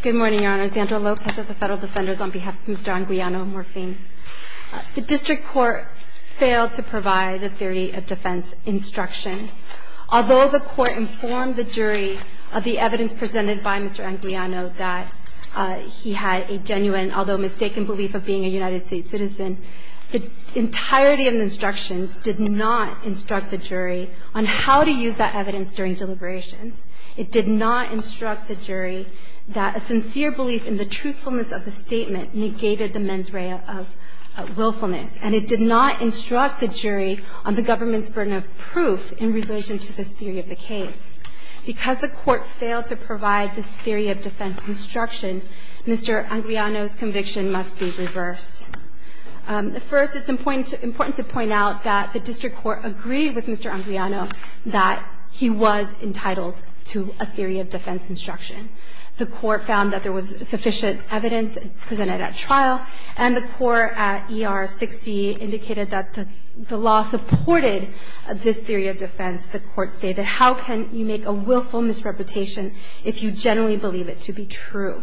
Good morning, Your Honor. Sandra Lopez of the Federal Defenders on behalf of Mr. Anguiano-Morfin. The district court failed to provide the theory of defense instruction. Although the court informed the jury of the evidence presented by Mr. Anguiano that he had a genuine, although mistaken, belief of being a United States citizen, the entirety of the instructions did not instruct the jury on how to use that evidence during deliberations. It did not instruct the jury that a sincere belief in the truthfulness of the statement negated the mens rea of willfulness. And it did not instruct the jury on the government's burden of proof in relation to this theory of the case. Because the court failed to provide this theory of defense instruction, Mr. Anguiano's conviction must be reversed. First, it's important to point out that the district court agreed with Mr. Anguiano that he was entitled to a theory of defense instruction. The court found that there was sufficient evidence presented at trial, and the court at ER 60 indicated that the law supported this theory of defense. The court stated, how can you make a willfulness reputation if you generally believe it to be true?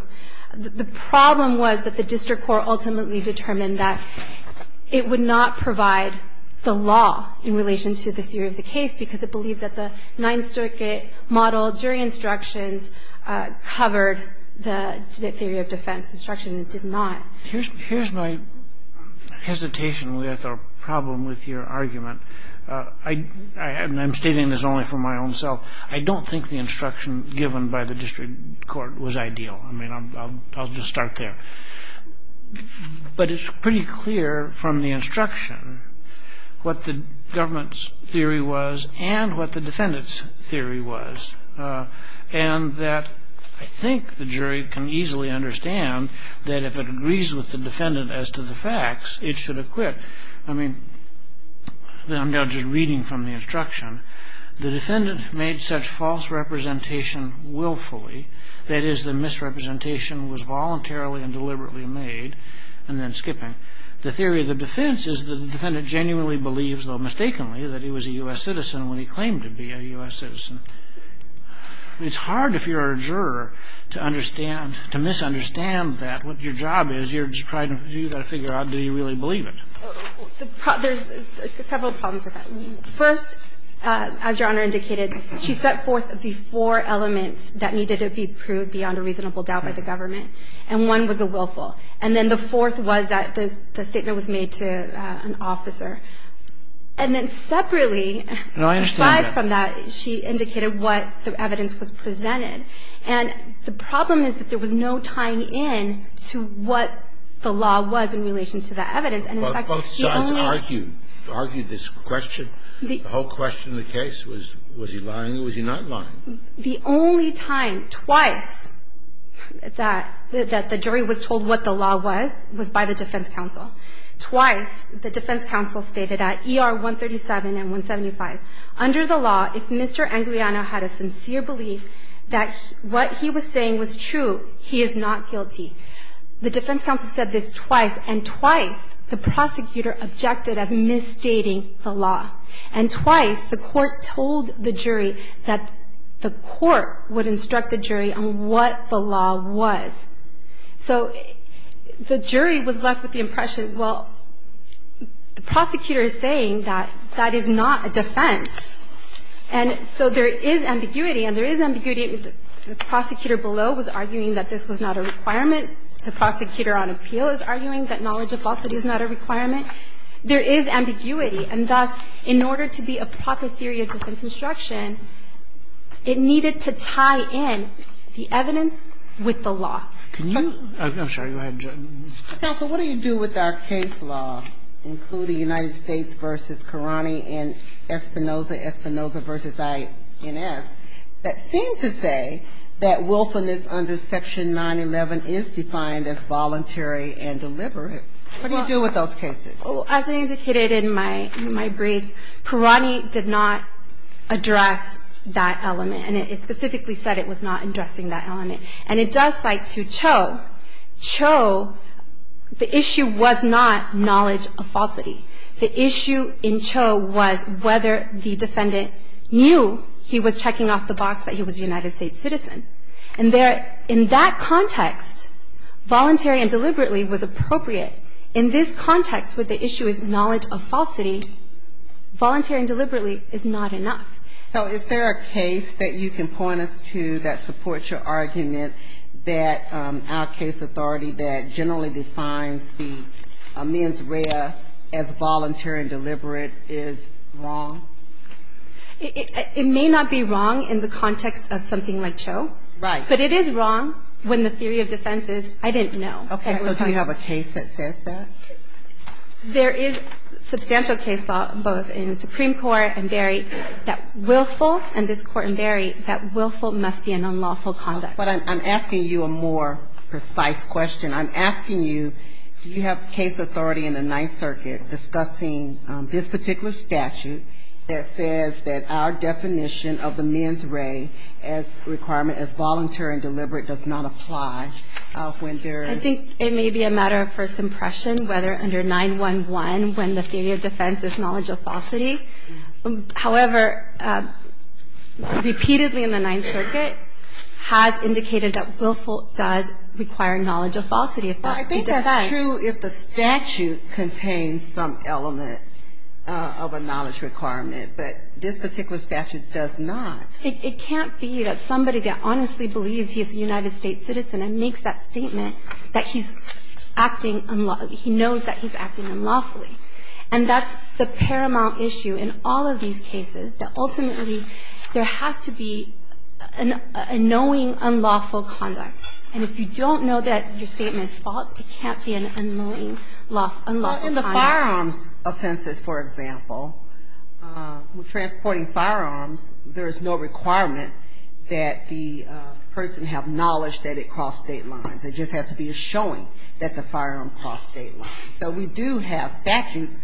The problem was that the district court ultimately determined that it would not provide the law in relation to this theory of the case because it believed that the Ninth Circuit model jury instructions covered the theory of defense instruction. It did not. Here's my hesitation with or problem with your argument. I'm stating this only for my own self. I don't think the instruction given by the district court was ideal. I mean, I'll just start there. But it's pretty clear from the instruction what the government's theory was and what the defendant's theory was, and that I think the jury can easily understand that if it agrees with the defendant as to the facts, it should acquit. I mean, I'm now just reading from the instruction. The defendant made such false representation willfully, that is, the misrepresentation was voluntarily and deliberately made, and then skipping. The theory of the defense is that the defendant genuinely believes, though mistakenly, that he was a U.S. citizen when he claimed to be a U.S. citizen. I mean, it's hard if you're a juror to understand, to misunderstand that what your job is. You're just trying to figure out, do you really believe it? There's several problems with that. First, as Your Honor indicated, she set forth the four elements that needed to be proved beyond a reasonable doubt by the government, and one was a willful. And then the fourth was that the statement was made to an officer. And then separately, aside from that, she indicated what the evidence was presented. And the problem is that there was no tying in to what the law was in relation to that evidence, and, in fact, he only had. But both sides argued, argued this question. The whole question of the case was, was he lying or was he not lying? The only time twice that the jury was told what the law was, was by the defense counsel. Twice, the defense counsel stated at ER 137 and 175, under the law, if Mr. Anguiano had a sincere belief that what he was saying was true, he is not guilty. The defense counsel said this twice, and twice the prosecutor objected at misstating the law. And twice, the court told the jury that the court would instruct the jury on what the law was. So the jury was left with the impression, well, the prosecutor is saying that that is not a defense. And so there is ambiguity, and there is ambiguity. The prosecutor below was arguing that this was not a requirement. The prosecutor on appeal is arguing that knowledge of falsity is not a requirement. There is ambiguity. And thus, in order to be a profiteerial defense instruction, it needed to tie in the evidence with the law. Roberts. I'm sorry. Go ahead, Judge. Ginsburg. Counsel, what do you do with our case law, including United States v. Karani and Espinoza, Espinoza v. INS, that seem to say that willfulness under Section 911 is defined as voluntary and deliberate? What do you do with those cases? Well, as I indicated in my briefs, Karani did not address that element, and it specifically said it was not addressing that element. And it does cite to Cho. Cho, the issue was not knowledge of falsity. The issue in Cho was whether the defendant knew he was checking off the box that he was a United States citizen. And there, in that context, voluntary and deliberately was appropriate. In this context, where the issue is knowledge of falsity, voluntary and deliberately is not enough. So is there a case that you can point us to that supports your argument that our case authority that generally defines the mens rea as voluntary and deliberate is wrong? It may not be wrong in the context of something like Cho. Right. But it is wrong when the theory of defense is, I didn't know. Okay. So do we have a case that says that? There is substantial case law, both in the Supreme Court and Berry, that willful and this Court in Berry, that willful must be an unlawful conduct. But I'm asking you a more precise question. I'm asking you, do you have case authority in the Ninth Circuit discussing this particular statute that says that our definition of the mens rea as requirement as voluntary and deliberate does not apply when there is? I think it may be a matter of first impression whether under 9-1-1 when the theory of defense is knowledge of falsity. However, repeatedly in the Ninth Circuit has indicated that willful does require knowledge of falsity. I think that's true if the statute contains some element of a knowledge requirement, but this particular statute does not. It can't be that somebody that honestly believes he's a United States citizen and makes that statement that he's acting unlawfully, he knows that he's acting unlawfully. And that's the paramount issue in all of these cases, that ultimately there has to be a knowing unlawful conduct. And if you don't know that your statement is false, it can't be an unlawful conduct. Well, in the firearms offenses, for example, transporting firearms, there is no requirement that the person have knowledge that it crossed state lines. It just has to be a showing that the firearm crossed state lines. So we do have statutes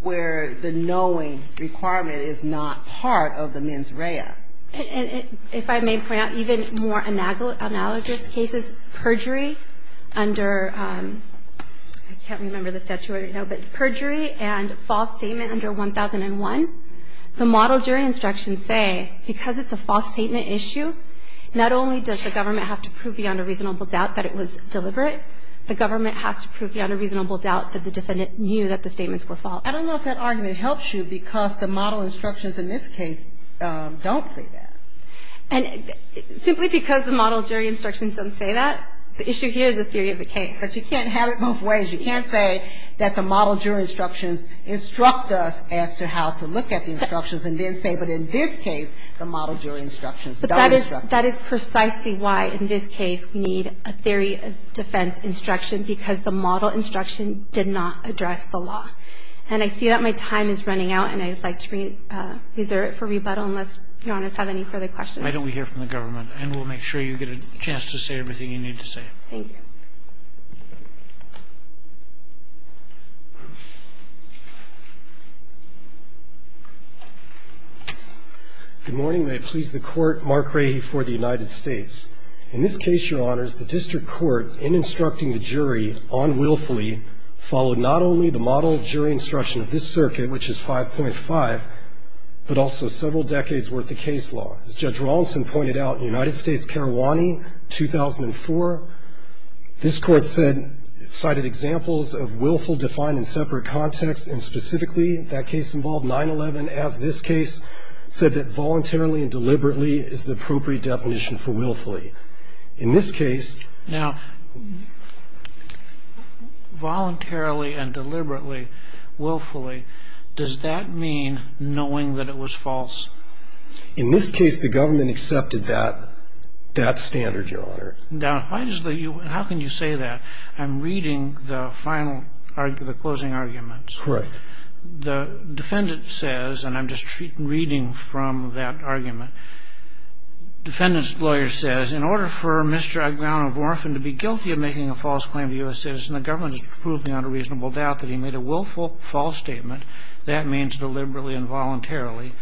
where the knowing requirement is not part of the mens rea. And if I may point out even more analogous cases, perjury under, I can't remember the statute right now, but perjury and false statement under 1001. The model jury instructions say because it's a false statement issue, not only does the government have to prove beyond a reasonable doubt that it was deliberate, the government has to prove beyond a reasonable doubt that the defendant knew that the statements were false. I don't know if that argument helps you because the model instructions in this case don't say that. And simply because the model jury instructions don't say that, the issue here is the theory of the case. But you can't have it both ways. You can't say that the model jury instructions instruct us as to how to look at the instructions and then say, but in this case, the model jury instructions don't instruct us. But that is precisely why in this case we need a theory of defense instruction because the model instruction did not address the law. And I see that my time is running out, and I'd like to reserve it for rebuttal unless Your Honors have any further questions. Why don't we hear from the government, and we'll make sure you get a chance to say everything you need to say. Thank you. Good morning. May it please the Court. Mark Rahe for the United States. In this case, Your Honors, the district court, in instructing the jury unwillfully, followed not only the model jury instruction of this circuit, which is 5.5, but also several decades' worth of case law. As Judge Rawlinson pointed out, in the United States Karouani, 2004, this Court said, cited examples of willful defined in separate contexts, and specifically that case involved 9-11 as this case, said that voluntarily and deliberately is the appropriate definition for willfully. In this case... Now, voluntarily and deliberately, willfully, does that mean knowing that it was false? In this case, the government accepted that standard, Your Honor. Now, how can you say that? I'm reading the closing arguments. Correct. In order for Mr. Aguiano-Morfin to be guilty of making a false claim to the U.S. citizen, the government has proved me under reasonable doubt that he made a willful false statement. That means deliberately and voluntarily.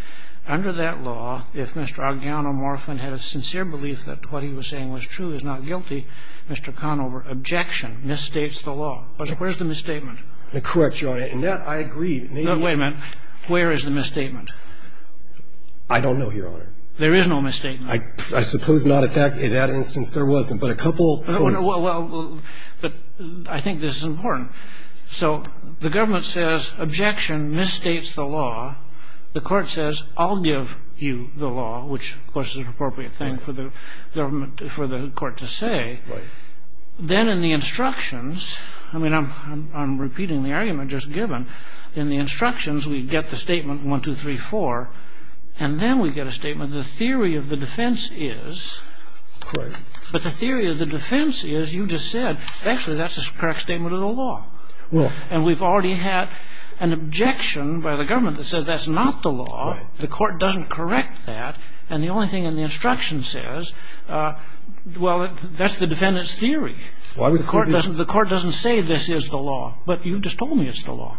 Under that law, if Mr. Aguiano-Morfin had a sincere belief that what he was saying was true, is not guilty, Mr. Conover, objection misstates the law. Where's the misstatement? Correct, Your Honor. In that, I agree. Now, wait a minute. Where is the misstatement? I don't know, Your Honor. There is no misstatement. I suppose not. In that instance, there wasn't. But a couple points. Well, I think this is important. So the government says, objection misstates the law. The court says, I'll give you the law, which, of course, is an appropriate thing for the government, for the court to say. Right. Then in the instructions, I mean, I'm repeating the argument just given. In the instructions, we get the statement 1, 2, 3, 4. And then we get a statement, the theory of the defense is. Right. But the theory of the defense is, you just said, actually, that's a correct statement of the law. Well. And we've already had an objection by the government that says that's not the law. Right. The court doesn't correct that. And the only thing in the instruction says, well, that's the defendant's theory. Well, I was thinking. The court doesn't say this is the law. But you've just told me it's the law.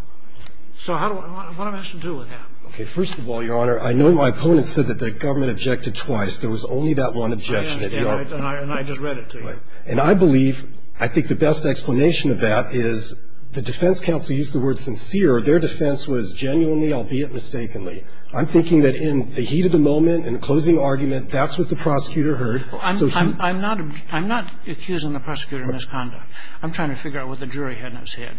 So what am I supposed to do with that? Okay. First of all, Your Honor, I know my opponent said that the government objected There was only that one objection. I understand. And I just read it to you. Right. And I believe, I think the best explanation of that is the defense counsel used the word sincere. Their defense was genuinely, albeit mistakenly. I'm thinking that in the heat of the moment, in the closing argument, that's what the prosecutor heard. I'm not accusing the prosecutor of misconduct. I'm trying to figure out what the jury had in its head.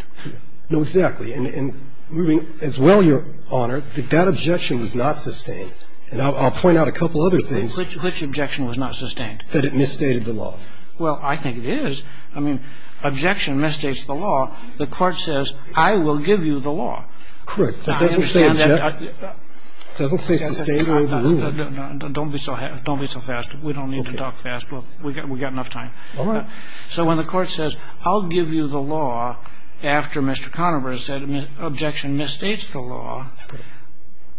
No, exactly. And moving as well, Your Honor, that that objection was not sustained. And I'll point out a couple other things. Which objection was not sustained? That it misstated the law. Well, I think it is. I mean, objection misstates the law. The court says, I will give you the law. Correct. It doesn't say object. It doesn't say sustained or the rule. Don't be so fast. We don't need to talk fast. We've got enough time. All right. So when the court says, I'll give you the law after Mr. Conover has said objection misstates the law,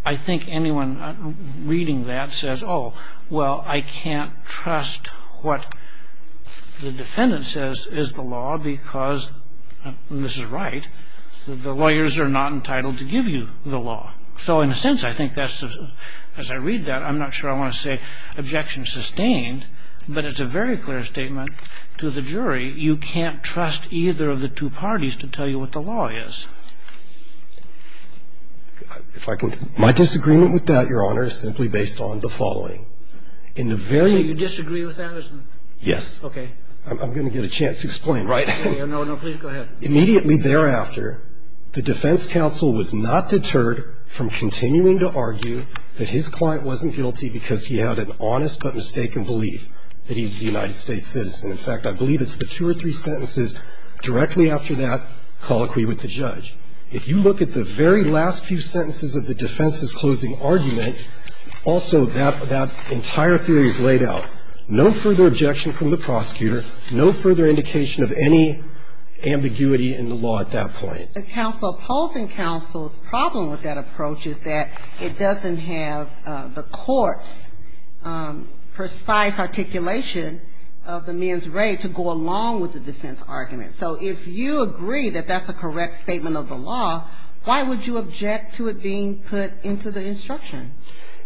I think anyone reading that says, oh, well, I can't trust what the defendant says is the law because, and this is right, the lawyers are not entitled to give you the law. So in a sense, I think that's, as I read that, I'm not sure I want to say objection sustained, but it's a very clear statement to the jury, you can't trust either of the two parties to tell you what the law is. If I can. My disagreement with that, Your Honor, is simply based on the following. In the very. So you disagree with that? Yes. Okay. I'm going to get a chance to explain. Right. No, no, please go ahead. Immediately thereafter, the defense counsel was not deterred from continuing to argue that his client wasn't guilty because he had an honest but mistaken belief that he was a United States citizen. In fact, I believe it's the two or three sentences directly after that colloquy with the judge. If you look at the very last few sentences of the defense's closing argument, also that entire theory is laid out. No further objection from the prosecutor, no further indication of any ambiguity in the law at that point. The counsel opposing counsel's problem with that approach is that it doesn't have the court's precise articulation of the men's right to go along with the defense argument. So if you agree that that's a correct statement of the law, why would you object to it being put into the instruction?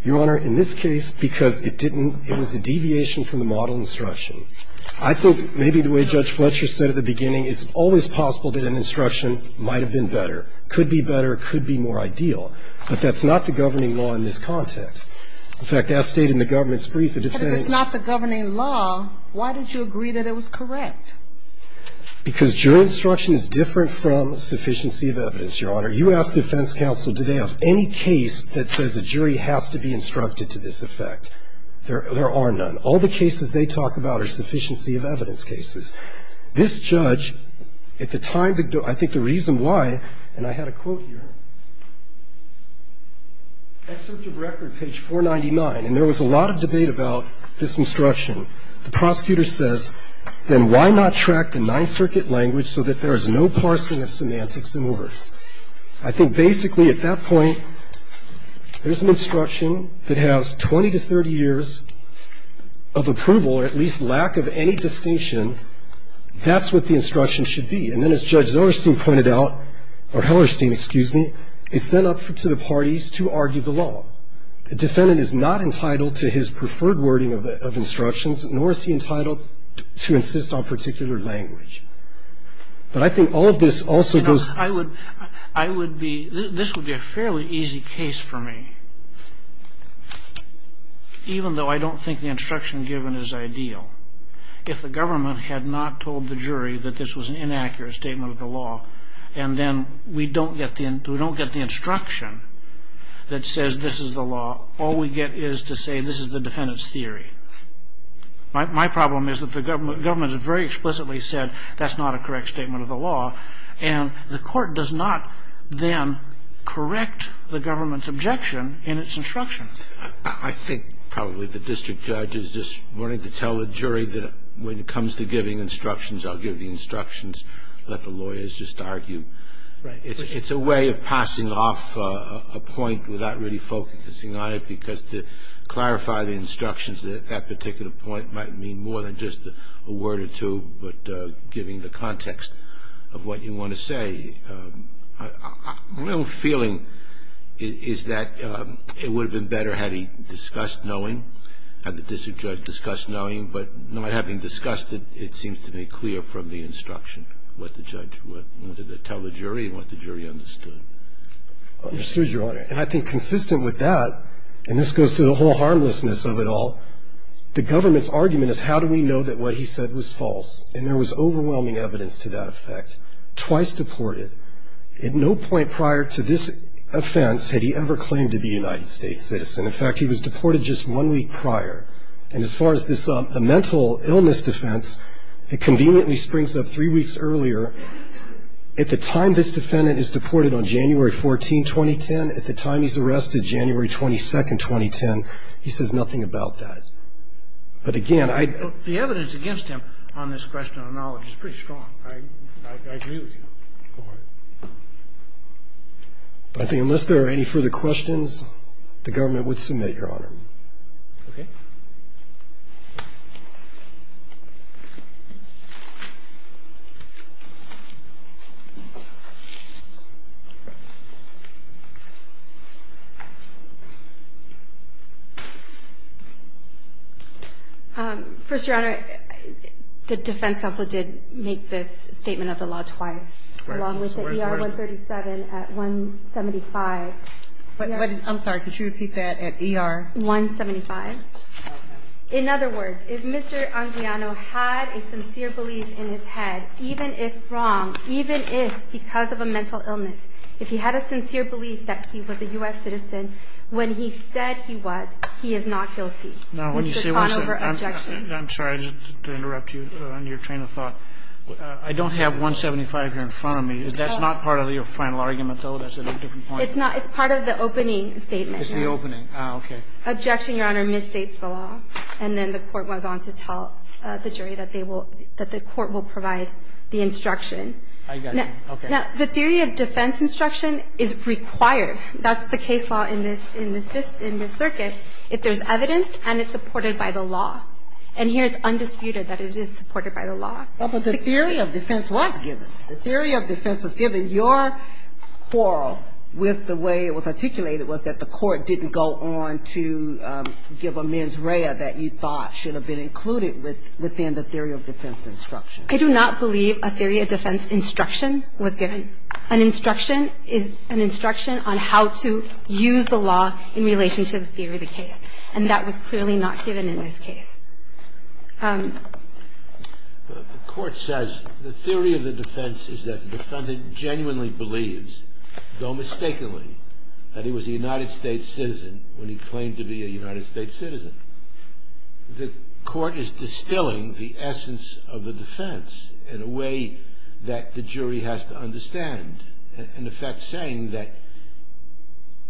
Your Honor, in this case, because it didn't, it was a deviation from the model instruction. I think maybe the way Judge Fletcher said at the beginning, it's always possible that an instruction might have been better, could be better, could be more ideal. But that's not the governing law in this context. In fact, as stated in the government's brief, the defense ---- But if it's not the governing law, why did you agree that it was correct? Because jury instruction is different from sufficiency of evidence, Your Honor. You ask the defense counsel, do they have any case that says a jury has to be instructed to this effect? There are none. All the cases they talk about are sufficiency of evidence cases. This judge, at the time, I think the reason why, and I had a quote here. Excerpt of record, page 499. And there was a lot of debate about this instruction. The prosecutor says, then why not track the Ninth Circuit language so that there is no parsing of semantics and words? I think basically at that point, there's an instruction that has 20 to 30 years of approval or at least lack of any distinction. That's what the instruction should be. And then as Judge Zellerstein pointed out, or Hellerstein, excuse me, it's then up to the parties to argue the law. The defendant is not entitled to his preferred wording of instructions, nor is he entitled to insist on particular language. But I think all of this also goes ---- This would be a fairly easy case for me, even though I don't think the instruction given is ideal. If the government had not told the jury that this was an inaccurate statement of the law, and then we don't get the instruction that says this is the law, all we get is to say this is the defendant's theory. My problem is that the government has very explicitly said that's not a correct statement of the law. And the court does not then correct the government's objection in its instruction. I think probably the district judge is just wanting to tell the jury that when it comes to giving instructions, I'll give the instructions. Let the lawyers just argue. Right. It's a way of passing off a point without really focusing on it, because to clarify the instructions that that particular point might mean more than just a word or two, but giving the context of what you want to say, my own feeling is that it would have been better had he discussed knowing, had the district judge discussed knowing, but not having discussed it, it seems to be clear from the instruction what the judge wanted to tell the jury and what the jury understood. Understood, Your Honor. And I think consistent with that, and this goes to the whole harmlessness of it all, the government's argument is how do we know that what he said was false? And there was overwhelming evidence to that effect. Twice deported. At no point prior to this offense had he ever claimed to be a United States citizen. In fact, he was deported just one week prior. And as far as this mental illness defense, it conveniently springs up three weeks earlier. At the time this defendant is deported on January 14, 2010, at the time he's arrested January 22, 2010, he says nothing about that. But again, I don't think... The evidence against him on this question of knowledge is pretty strong. I agree with you. All right. I think unless there are any further questions, the government would submit, Your Honor. Okay. First, Your Honor, the defense counsel did make this statement of the law twice. Correct. Along with the ER-137 at 175. I'm sorry. Could you repeat that? At ER- 175. In other words, if Mr. Anguiano had a sincere belief in his head, even if wrong, even if because of a mental illness, if he had a sincere belief that he was a U.S. citizen, when he said he was, he is not guilty. Mr. Conover, objection? I'm sorry to interrupt you on your train of thought. I don't have 175 here in front of me. That's not part of your final argument, though? That's a different point. It's not. It's part of the opening statement. It's the opening. Oh, okay. Objection, Your Honor, misstates the law. And then the court was on to tell the jury that they will – that the court will provide the instruction. I got it. Okay. Now, the theory of defense instruction is required. That's the case law in this – in this circuit if there's evidence and it's supported by the law. And here it's undisputed that it is supported by the law. But the theory of defense was given. The theory of defense was given. And your quarrel with the way it was articulated was that the court didn't go on to give a mens rea that you thought should have been included within the theory of defense instruction. I do not believe a theory of defense instruction was given. An instruction is an instruction on how to use the law in relation to the theory of the case. And that was clearly not given in this case. The court says the theory of the defense is that the defendant genuinely believes, though mistakenly, that he was a United States citizen when he claimed to be a United States citizen. The court is distilling the essence of the defense in a way that the jury has to understand, in effect saying that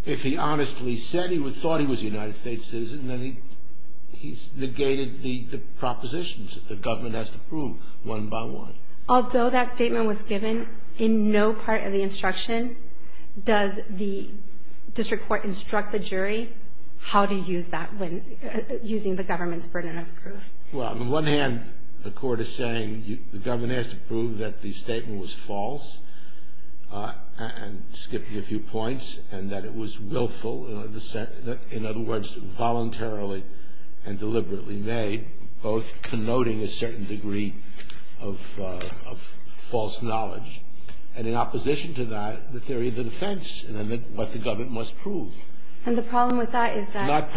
if he honestly said he thought he was a United States citizen, then he should have believed the propositions that the government has to prove one by one. Although that statement was given in no part of the instruction, does the district court instruct the jury how to use that when using the government's burden of proof? Well, on the one hand, the court is saying the government has to prove that the statement was false, and skipping a few points, and that it was willful, in other words, voluntarily and deliberately made, both connoting a certain degree of false knowledge. And in opposition to that, the theory of the defense and what the government must prove. And the problem with that is that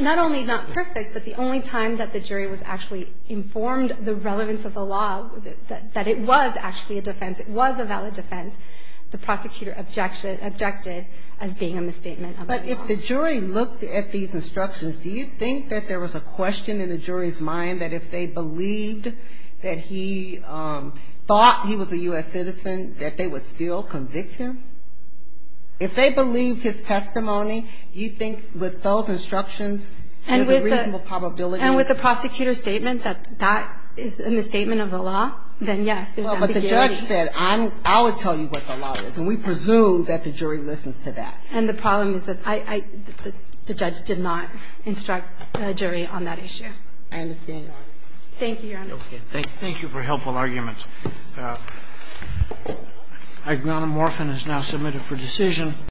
the only time that the jury was actually informed the relevance of the law, that it was actually a defense, it was a valid defense, the prosecutor objected as being a misstatement of the law. But if the jury looked at these instructions, do you think that there was a question in the jury's mind that if they believed that he thought he was a U.S. citizen, that they would still convict him? If they believed his testimony, you think with those instructions there's a reasonable probability? And with the prosecutor's statement that that is a misstatement of the law, then yes, there's ambiguity. The judge said, I would tell you what the law is, and we presume that the jury listens to that. And the problem is that the judge did not instruct the jury on that issue. I understand your argument. Thank you, Your Honor. Okay. Thank you for helpful arguments. Igranomorphin is now submitted for decision.